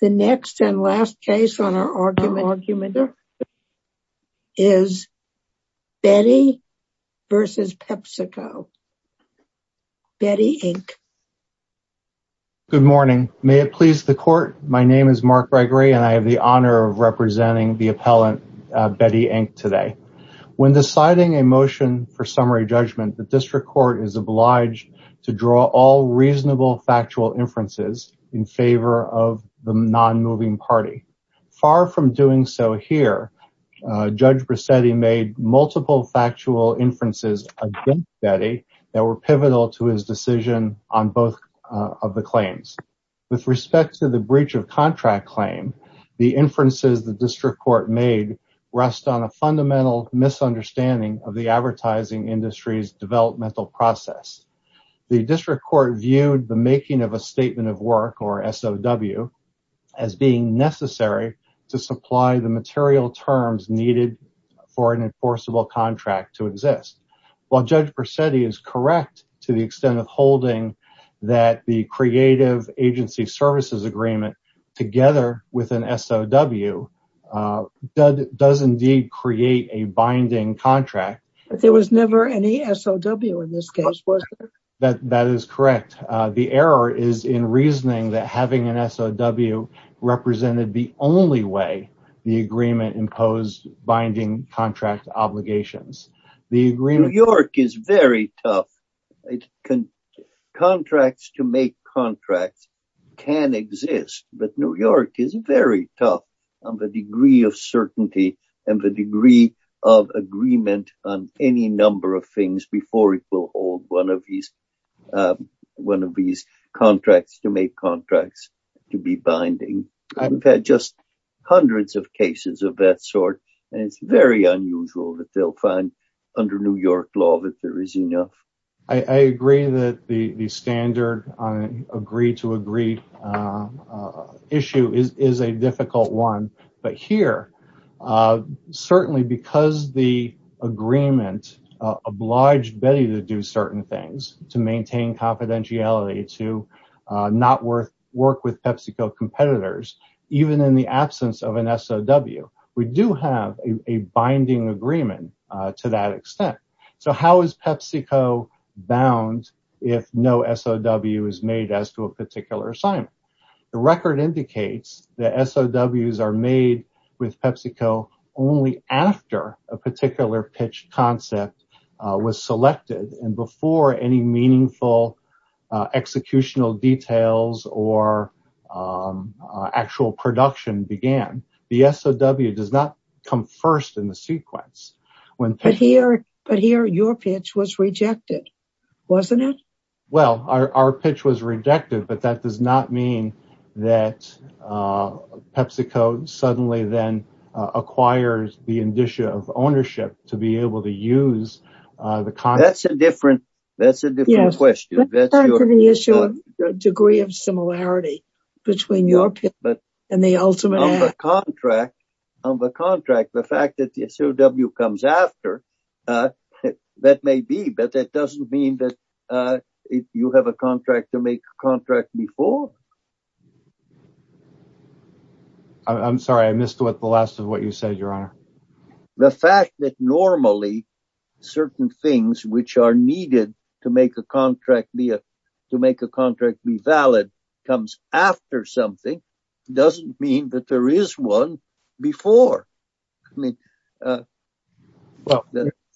The next and last case on our argument is Betty v. PepsiCo, Betty, Inc. Good morning. May it please the court, my name is Mark Gregory and I have the honor of representing the appellant Betty, Inc. today. When deciding a motion for summary judgment, the district court is the non-moving party. Far from doing so here, Judge Bracetti made multiple factual inferences against Betty that were pivotal to his decision on both of the claims. With respect to the breach of contract claim, the inferences the district court made rest on a fundamental misunderstanding of the advertising industry's developmental process. The district court viewed the making of a statement of work, or SOW, as being necessary to supply the material terms needed for an enforceable contract to exist. While Judge Bracetti is correct to the extent of holding that the creative agency services agreement together with an SOW does indeed create a binding contract, there was never any SOW in this case, was there? That is correct. The error is in reasoning that having an SOW represented the only way the agreement imposed binding contract obligations. New York is very tough. Contracts to make contracts can exist, but New York is very uncertain about the degree of agreement on any number of things before it will hold one of these contracts to make contracts to be binding. I've had just hundreds of cases of that sort, and it's very unusual that they'll find under New York law that there is enough. I agree that the SOW is binding. Certainly, because the agreement obliged Betty to do certain things, to maintain confidentiality, to not work with PepsiCo competitors, even in the absence of an SOW, we do have a binding agreement to that extent. How is PepsiCo bound if no SOW is made as to a particular assignment? The record indicates that SOWs are made with PepsiCo only after a particular pitch concept was selected and before any meaningful executional details or actual production began. The SOW does not come first in the sequence. But here, your pitch was rejected, wasn't it? Well, our pitch was rejected, but that does not mean that PepsiCo suddenly then acquires the indicia of ownership to be able to use the contract. That's a different question. Yes, that's the issue of the degree of similarity between your pitch and the ultimate act. On the contract, the fact that the SOW comes after, that may be, but that doesn't mean that you have a contract to make a contract before. I'm sorry, I missed the last of what you said, Your Honor. The fact that normally certain things which are needed to make a contract be valid comes after something doesn't mean that there is one before. Well,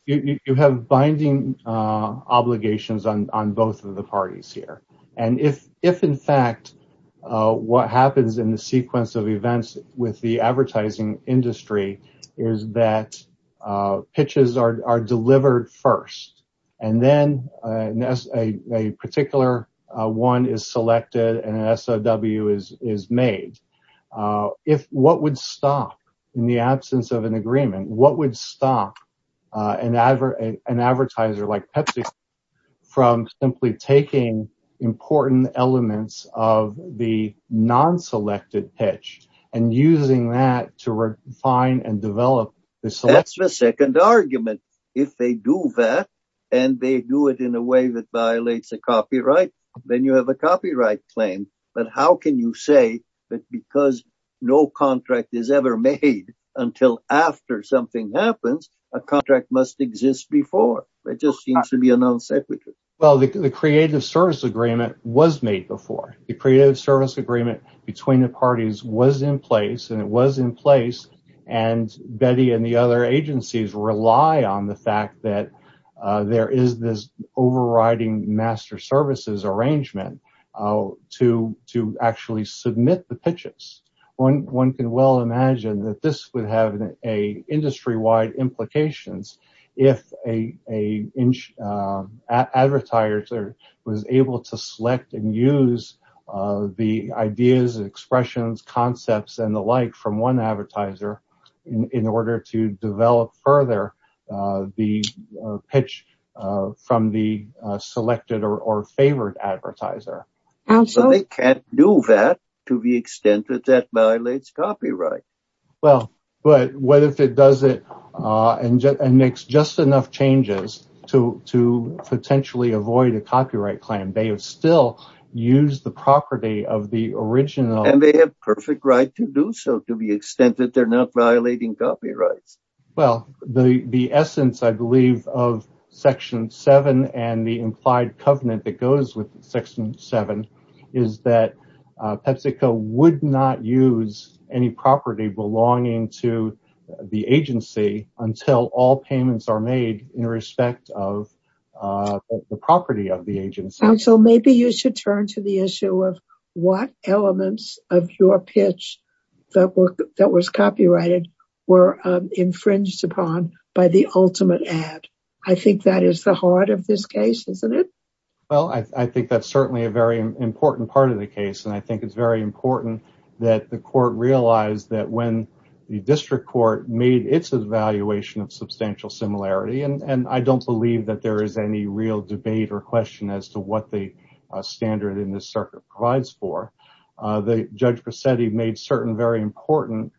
you have binding obligations on both of the parties here. And if, in fact, what happens in the sequence of events with the advertising industry is that pitches are made, what would stop, in the absence of an agreement, what would stop an advertiser like PepsiCo from simply taking important elements of the non-selected pitch and using that to refine and develop? That's the second argument. If they do that, and they do it in a way that violates a copyright, then you have a copyright claim. But how can you say that because no contract is ever made until after something happens, a contract must exist before? It just seems to be a non-separate. Well, the Creative Service Agreement was made before. The Creative Service Agreement between the parties was in place, and it was in place, and Betty and the other agencies rely on the fact that there is this overriding master services arrangement to actually submit the pitches. One can well imagine that this would have industry-wide implications if an advertiser was able to select and use the ideas, expressions, concepts, and the like from one advertiser in order to develop further the pitch from the selected or favored advertiser. They can't do that to the extent that that violates copyright. Well, but what if it does it and makes just enough changes to potentially avoid a copyright claim? They have still used the property of the original. And they have perfect right to do so to the extent that they're not violating copyrights. Well, the essence, I believe, of Section 7 and the implied covenant that goes with Section 7 is that PepsiCo would not use any property belonging to the agency until all payments are made in respect of the property of the agency. So maybe you should turn to the issue of what elements of your pitch that was copyrighted were infringed upon by the ultimate ad. I think that is the heart of this case, isn't it? Well, I think that's certainly a very important part of the case. And I think it's very important that the court realize that when the district court made its evaluation of substantial similarity, and I don't believe that there is any real debate or question as to what the standard in this circuit provides for, Judge Presetti made certain very important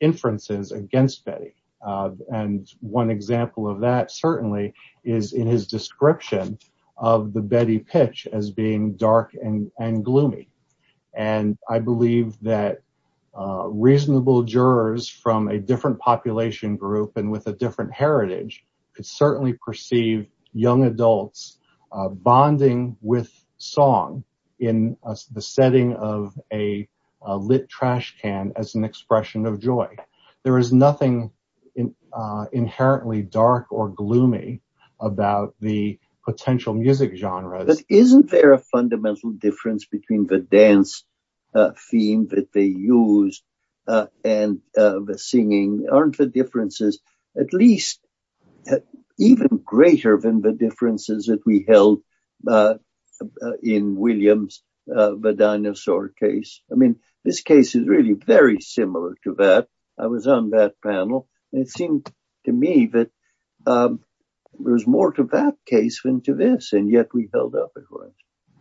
inferences against Betty. And one example of that certainly is in his description of the Betty pitch as being dark and gloomy. And I believe that reasonable jurors from a population group and with a different heritage could certainly perceive young adults bonding with song in the setting of a lit trash can as an expression of joy. There is nothing inherently dark or gloomy about the potential music genres. But isn't there a fundamental difference between the dance theme that they used and the singing? Aren't the differences at least even greater than the differences that we held in Williams, the dinosaur case? I mean, this case is really very similar to that. I was on that panel. It seemed to me that there's more to that case than to this, and yet we held up as well.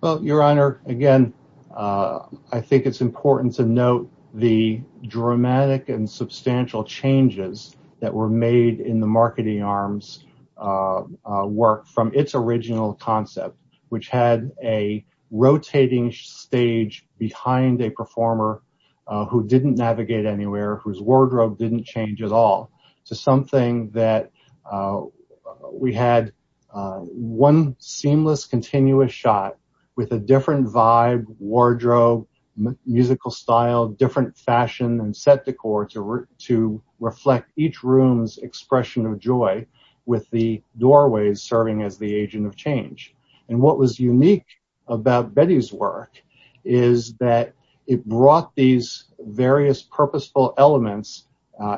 Well, Your Honor, again, I think it's important to note the dramatic and substantial changes that were made in the marketing arms work from its original concept, which had a rotating stage behind a performer who didn't navigate anywhere, whose wardrobe didn't change at all, to something that we had one seamless, continuous shot with a different vibe, wardrobe, musical style, different fashion, and set decor to reflect each room's expression of joy with the doorways serving as the agent of change. And what was unique about Betty's work is that it brought these various purposeful elements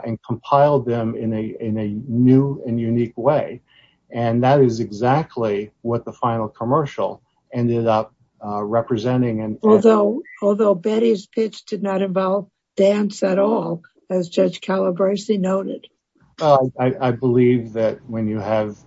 and compiled them in a new and unique way. And that is exactly what the final commercial ended up representing. Although Betty's pitch did not involve dance at all, as Judge Calabresi noted. I believe that when you have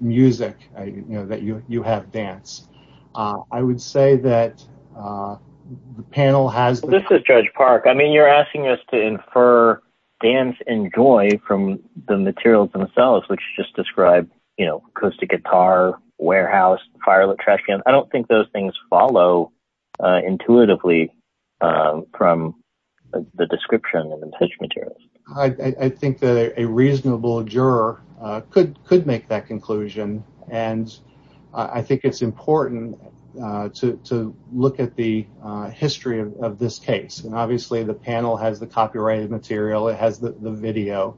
music, that you have dance. I would say that the panel has... This is Judge Park. I mean, you're asking us to infer dance and joy from the materials themselves, which just describe acoustic guitar, warehouse, fire lit trash cans. I don't think those things follow intuitively from the description and the pitch materials. I think that a reasonable juror could make that conclusion. And I think it's important to look at the history of this case. And obviously, the panel has the copyrighted material. It has the video.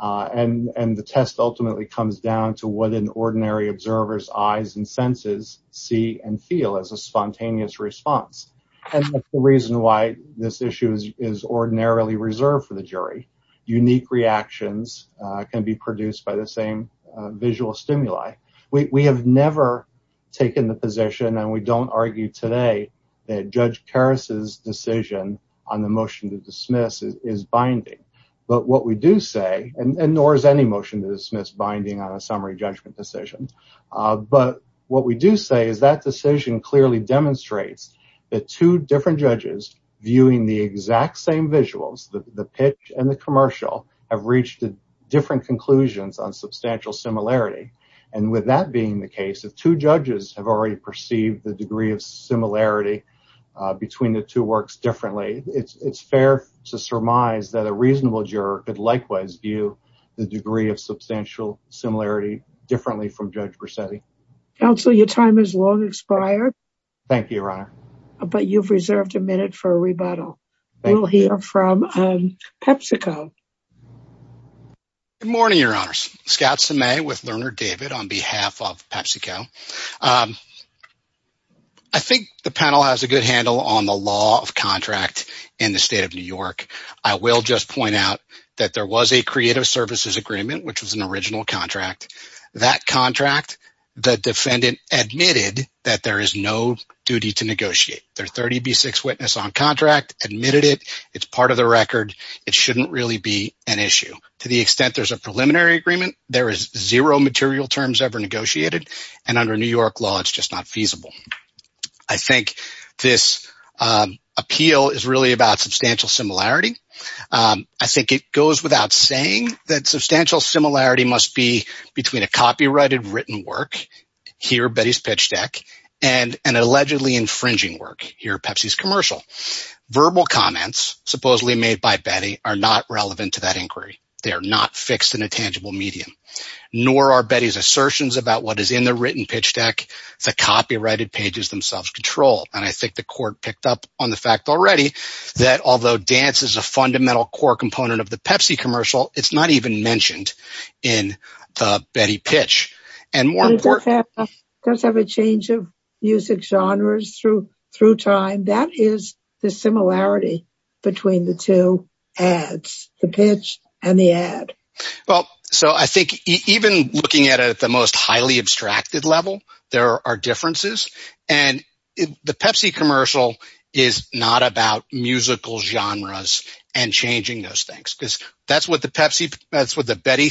And the test ultimately comes down to what an ordinary observer's eyes and senses see and feel as a spontaneous response. And that's the reason why this issue is ordinarily reserved for the jury. Unique reactions can be produced by the same visual stimuli. We have never taken the position, and we don't argue today, that Judge Carus's decision on the motion to dismiss is binding. But what we do say, and nor is any motion to dismiss binding on a summary judgment decision. But what we do say is that decision clearly demonstrates that two different judges viewing the exact same visuals, the pitch and the commercial, have reached different conclusions on substantial similarity. And with that being the case, if two judges have already perceived the degree of similarity between the two works differently, it's fair to surmise that a reasonable juror could likewise view the degree of substantial similarity differently from Judge Bracetti. Counsel, your time has long expired. Thank you, Your Honor. But you've reserved a minute for a rebuttal. We'll hear from PepsiCo. Good morning, Your Honors. Scott Semay with Lerner David on behalf of PepsiCo. I think the panel has a good handle on the law of contract in the state of New York. I will just point out that there was a creative services agreement, which was an original contract. That contract, the defendant admitted that there is no duty to negotiate. Their 30B6 witness on contract admitted it. It's part of the record. It shouldn't really be an issue. To the extent there's a preliminary agreement, there is zero material terms ever negotiated. And under New York law, it's just not feasible. I think this appeal is really about substantial similarity. I think it goes without saying that substantial similarity must be between a copyrighted written work, here Betty's pitch deck, and an allegedly infringing work, here Pepsi's commercial. Verbal comments, supposedly made by Betty, are not relevant to that inquiry. They are not fixed in a tangible medium. Nor are Betty's assertions about what is in the written pitch deck, the copyrighted pages themselves controlled. And I think the court picked up on the fact already that although dance is a fundamental core component of the Pepsi commercial, it's not even mentioned in the Betty pitch. It does have a change of music genres through time. That is the similarity between the two ads, the pitch and the ad. Even looking at it at the most musical genres and changing those things. That's what the Betty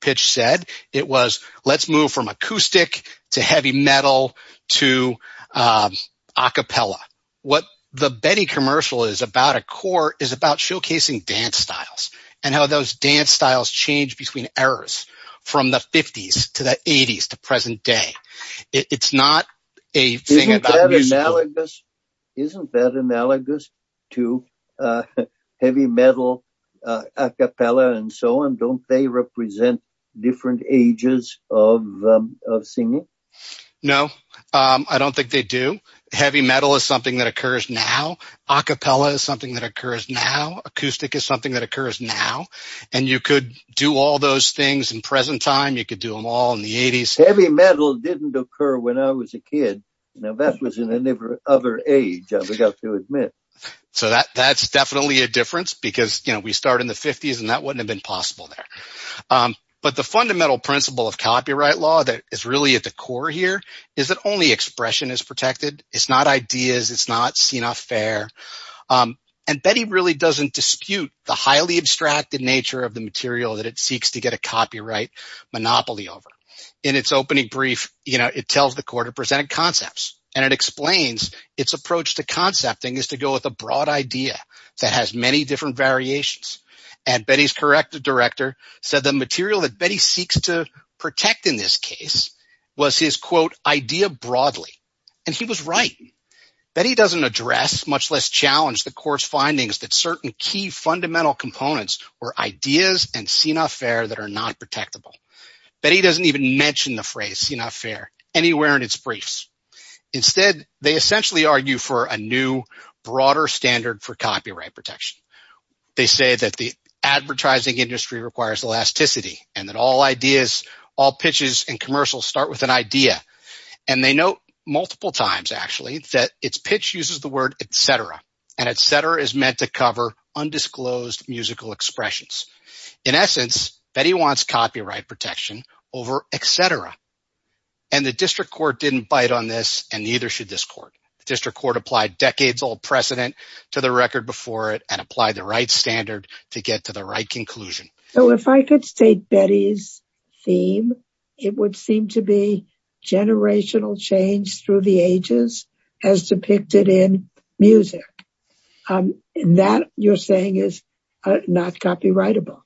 pitch said. It was, let's move from acoustic to heavy metal to acapella. What the Betty commercial is about at core is about showcasing dance styles and how those dance styles change between eras, from the 50s to the 80s to present day. It's not a thing about music. Isn't that analogous to heavy metal, acapella, and so on? Don't they represent different ages of singing? No, I don't think they do. Heavy metal is something that occurs now. Acapella is something that occurs now. Acoustic is something that occurs now. You could do all those things in present time. You could do them all in the 80s. Heavy metal didn't occur when I was a kid. That was in another age, I've got to admit. That's definitely a difference because we start in the 50s and that wouldn't have been possible there. But the fundamental principle of copyright law that is really at the core here is that only expression is protected. It's not ideas. It's not seen as fair. Betty really doesn't dispute the highly abstracted nature of the material that it seeks to get a copyright monopoly over. In its opening brief, it tells the court it presented concepts and it explains its approach to concepting is to go with a broad idea that has many different variations. Betty's corrective director said the material that Betty seeks to protect in this case was his, quote, idea broadly, and he was right. Betty doesn't address, much less challenge the court's findings that certain key fundamental components were ideas and seen as fair that are not protectable. Betty doesn't even mention the phrase seen as fair anywhere in its briefs. Instead, they essentially argue for a new broader standard for copyright protection. They say that the advertising industry requires elasticity and that all ideas, all pitches and commercials start with an idea. And they note multiple times, actually, that its meant to cover undisclosed musical expressions. In essence, Betty wants copyright protection over etc. And the district court didn't bite on this and neither should this court. The district court applied decades old precedent to the record before it and apply the right standard to get to the right conclusion. So if I could state Betty's theme, it would seem to be generational change through the ages as depicted in music. And that you're saying is not copyrightable.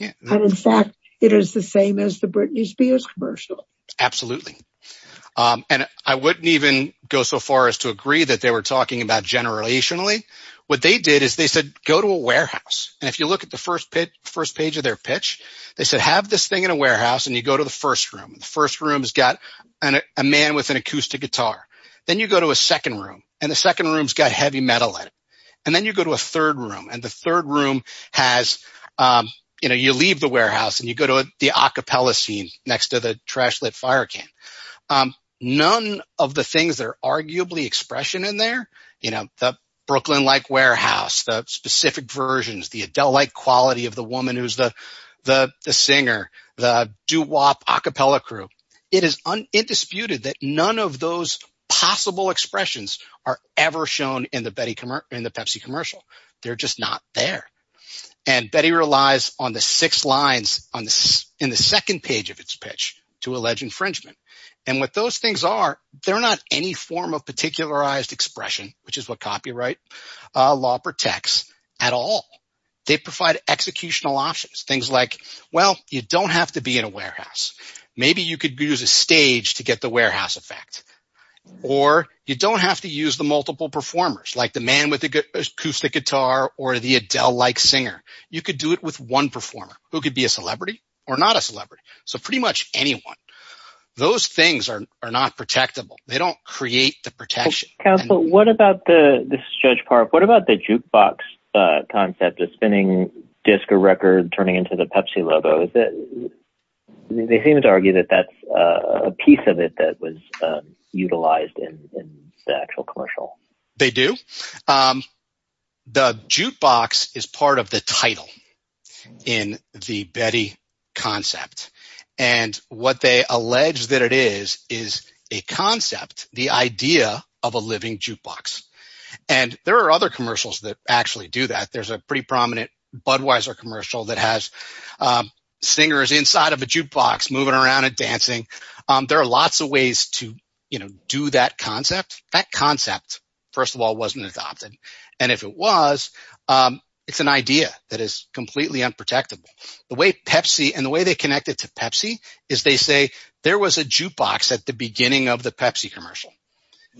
And in fact, it is the same as the Britney Spears commercial. Absolutely. And I wouldn't even go so far as to agree that they were talking about generationally. What they did is they said, go to a warehouse. And if you look at the first pitch, first page of their pitch, they said, have this thing in a warehouse and you go to the first room. The first room's got a man with an acoustic guitar. Then you go to a second room and the second room's got heavy metal in it. And then you go to a third room and the third room has, you know, you leave the warehouse and you go to the a cappella scene next to the trash lit fire can. None of the things that are arguably expression in there, you know, the Brooklyn like warehouse, the specific versions, the adult like quality of the woman who's the singer, the doo wop a cappella crew. It is undisputed that none of those possible expressions are ever shown in the Pepsi commercial. They're just not there. And Betty relies on the six lines in the second page of its pitch to allege infringement. And what those things are, they're not any form of particularized expression, which is what copyright law protects at all. They provide executional options, things like, well, you don't have to be in a warehouse. Maybe you could use a stage to get the warehouse effect or you don't have to use the multiple performers like the man with the acoustic guitar or the Adele like singer. You could do it with one performer who could be a celebrity or not a celebrity. So pretty much anyone, those things are not protectable. They don't create the protection. What about the jukebox concept of spinning disco record, turning into the Pepsi logo? They seem to argue that that's a piece of it that was utilized in the actual commercial. They do. The jukebox is part of the title in the Betty concept. And what they allege that it is, is a concept, the idea of a living jukebox. And there are other commercials that actually do that. There's a pretty prominent Budweiser commercial that has singers inside of a jukebox moving around and dancing. There are lots of ways to do that concept. That concept, first of all, wasn't adopted. And if it was, it's an idea that is completely unprotectable. The way Pepsi and the way they connected to Pepsi is they say there was a jukebox at the beginning of the Pepsi commercial.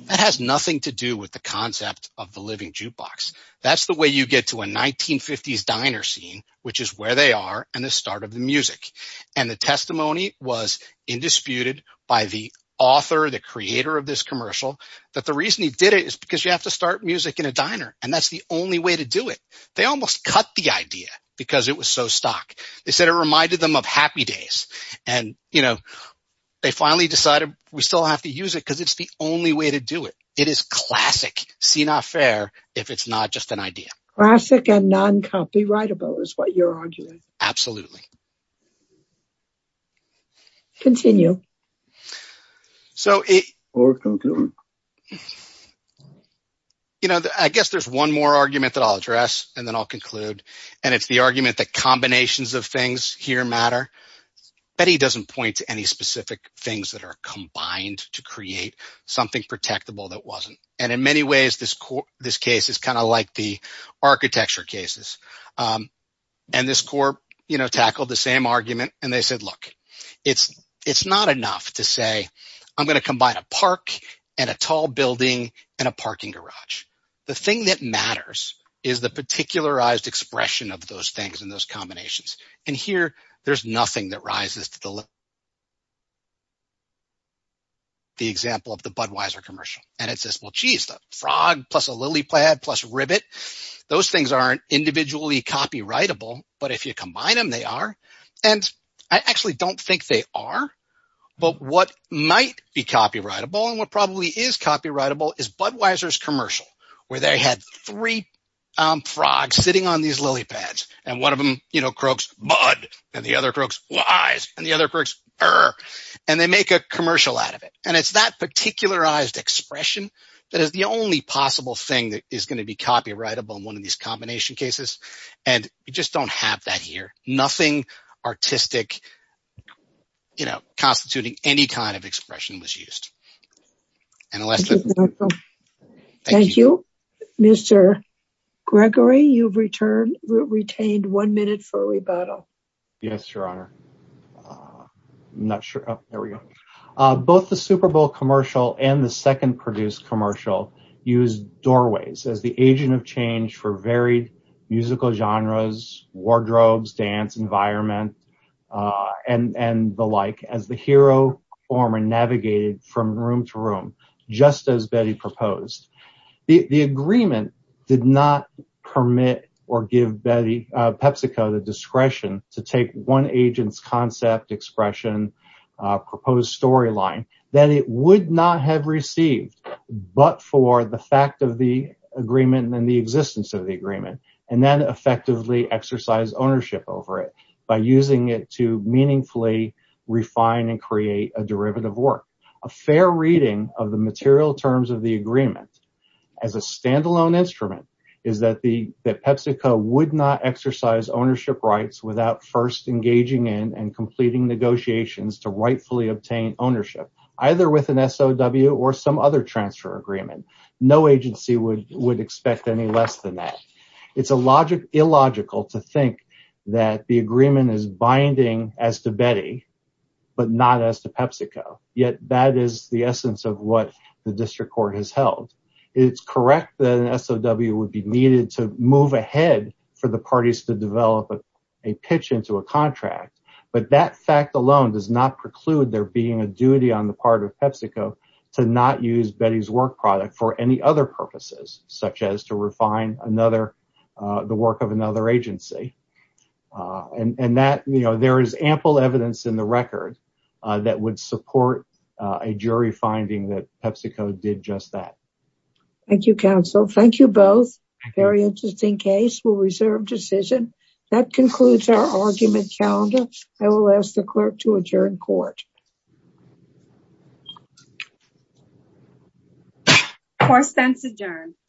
That has nothing to do with the concept of the living jukebox. That's the way you get to a 1950s diner scene, which is where they are and the start of the music. And the testimony was indisputed by the author, the creator of this commercial, that the reason he did it is because you have to start music in a diner. And that's the only way to do it. They almost cut the idea because it was so stock. They said it reminded them of happy days. And they finally decided we still have to use it because it's the only way to do it. It is classic, see not fair, if it's not just an idea. Classic and non-copyrightable is what you're arguing. Absolutely. Continue. I guess there's one more argument that I'll address and then I'll conclude. And it's the argument that combinations of things here matter. But he doesn't point to any specific things that are combined to create something protectable that wasn't. And in many ways, this case is kind of like the architecture cases. And this court tackled the same argument and they said, look, it's not enough to say I'm going to combine a park and a tall building and a parking garage. The thing that matters is the particularized expression of those things and those combinations. And here, there's nothing that rises to the level of the example of the Budweiser commercial. And it says, well, geez, the frog plus a lily pad plus a ribbit, those things aren't individually copyrightable. But if you combine them, they are. And I actually don't think they are. But what might be copyrightable and what probably is copyrightable is Budweiser's commercial where they had three frogs sitting on these lily pads. And one of them croaks, Bud. And the other croaks, Wise. And the other croaks, Er. And they make a commercial out of it. And it's that particularized expression that is the only possible thing that is going to be used. And you just don't have that here. Nothing artistic, you know, constituting any kind of expression was used. Thank you, Mr. Gregory. You've retained one minute for rebuttal. Yes, Your Honor. I'm not sure. There we go. Both the Super Bowl commercial and the second produced commercial used doorways as the agent of change for varied musical genres, wardrobes, dance, environment, and the like, as the hero performer navigated from room to room, just as Betty proposed. The agreement did not permit or give PepsiCo the discretion to take one agent's concept, expression, proposed storyline that it would not have received but for the fact of the agreement and the existence of the agreement, and then effectively exercise ownership over it by using it to meaningfully refine and create a derivative work. A fair reading of the material terms of the agreement as a standalone instrument is that PepsiCo would not exercise ownership rights without first engaging in and completing negotiations to rightfully obtain ownership, either with an SOW or some other transfer agreement. No agency would expect any less than that. It's illogical to think that the agreement is binding as to Betty but not as to PepsiCo, yet that is the essence of what the district court has held. It's correct that an SOW would be needed to move ahead for the parties to develop a pitch into a contract, but that fact alone does not preclude there being a duty on the part of PepsiCo to not use Betty's work product for any other purposes, such as to refine the work of another agency. There is ample evidence in the record that would support a jury finding that PepsiCo did just that. Thank you, counsel. Thank you both. Very interesting case. We'll reserve decision. That concludes our argument calendar. I will ask the clerk to adjourn court. Court stands adjourned.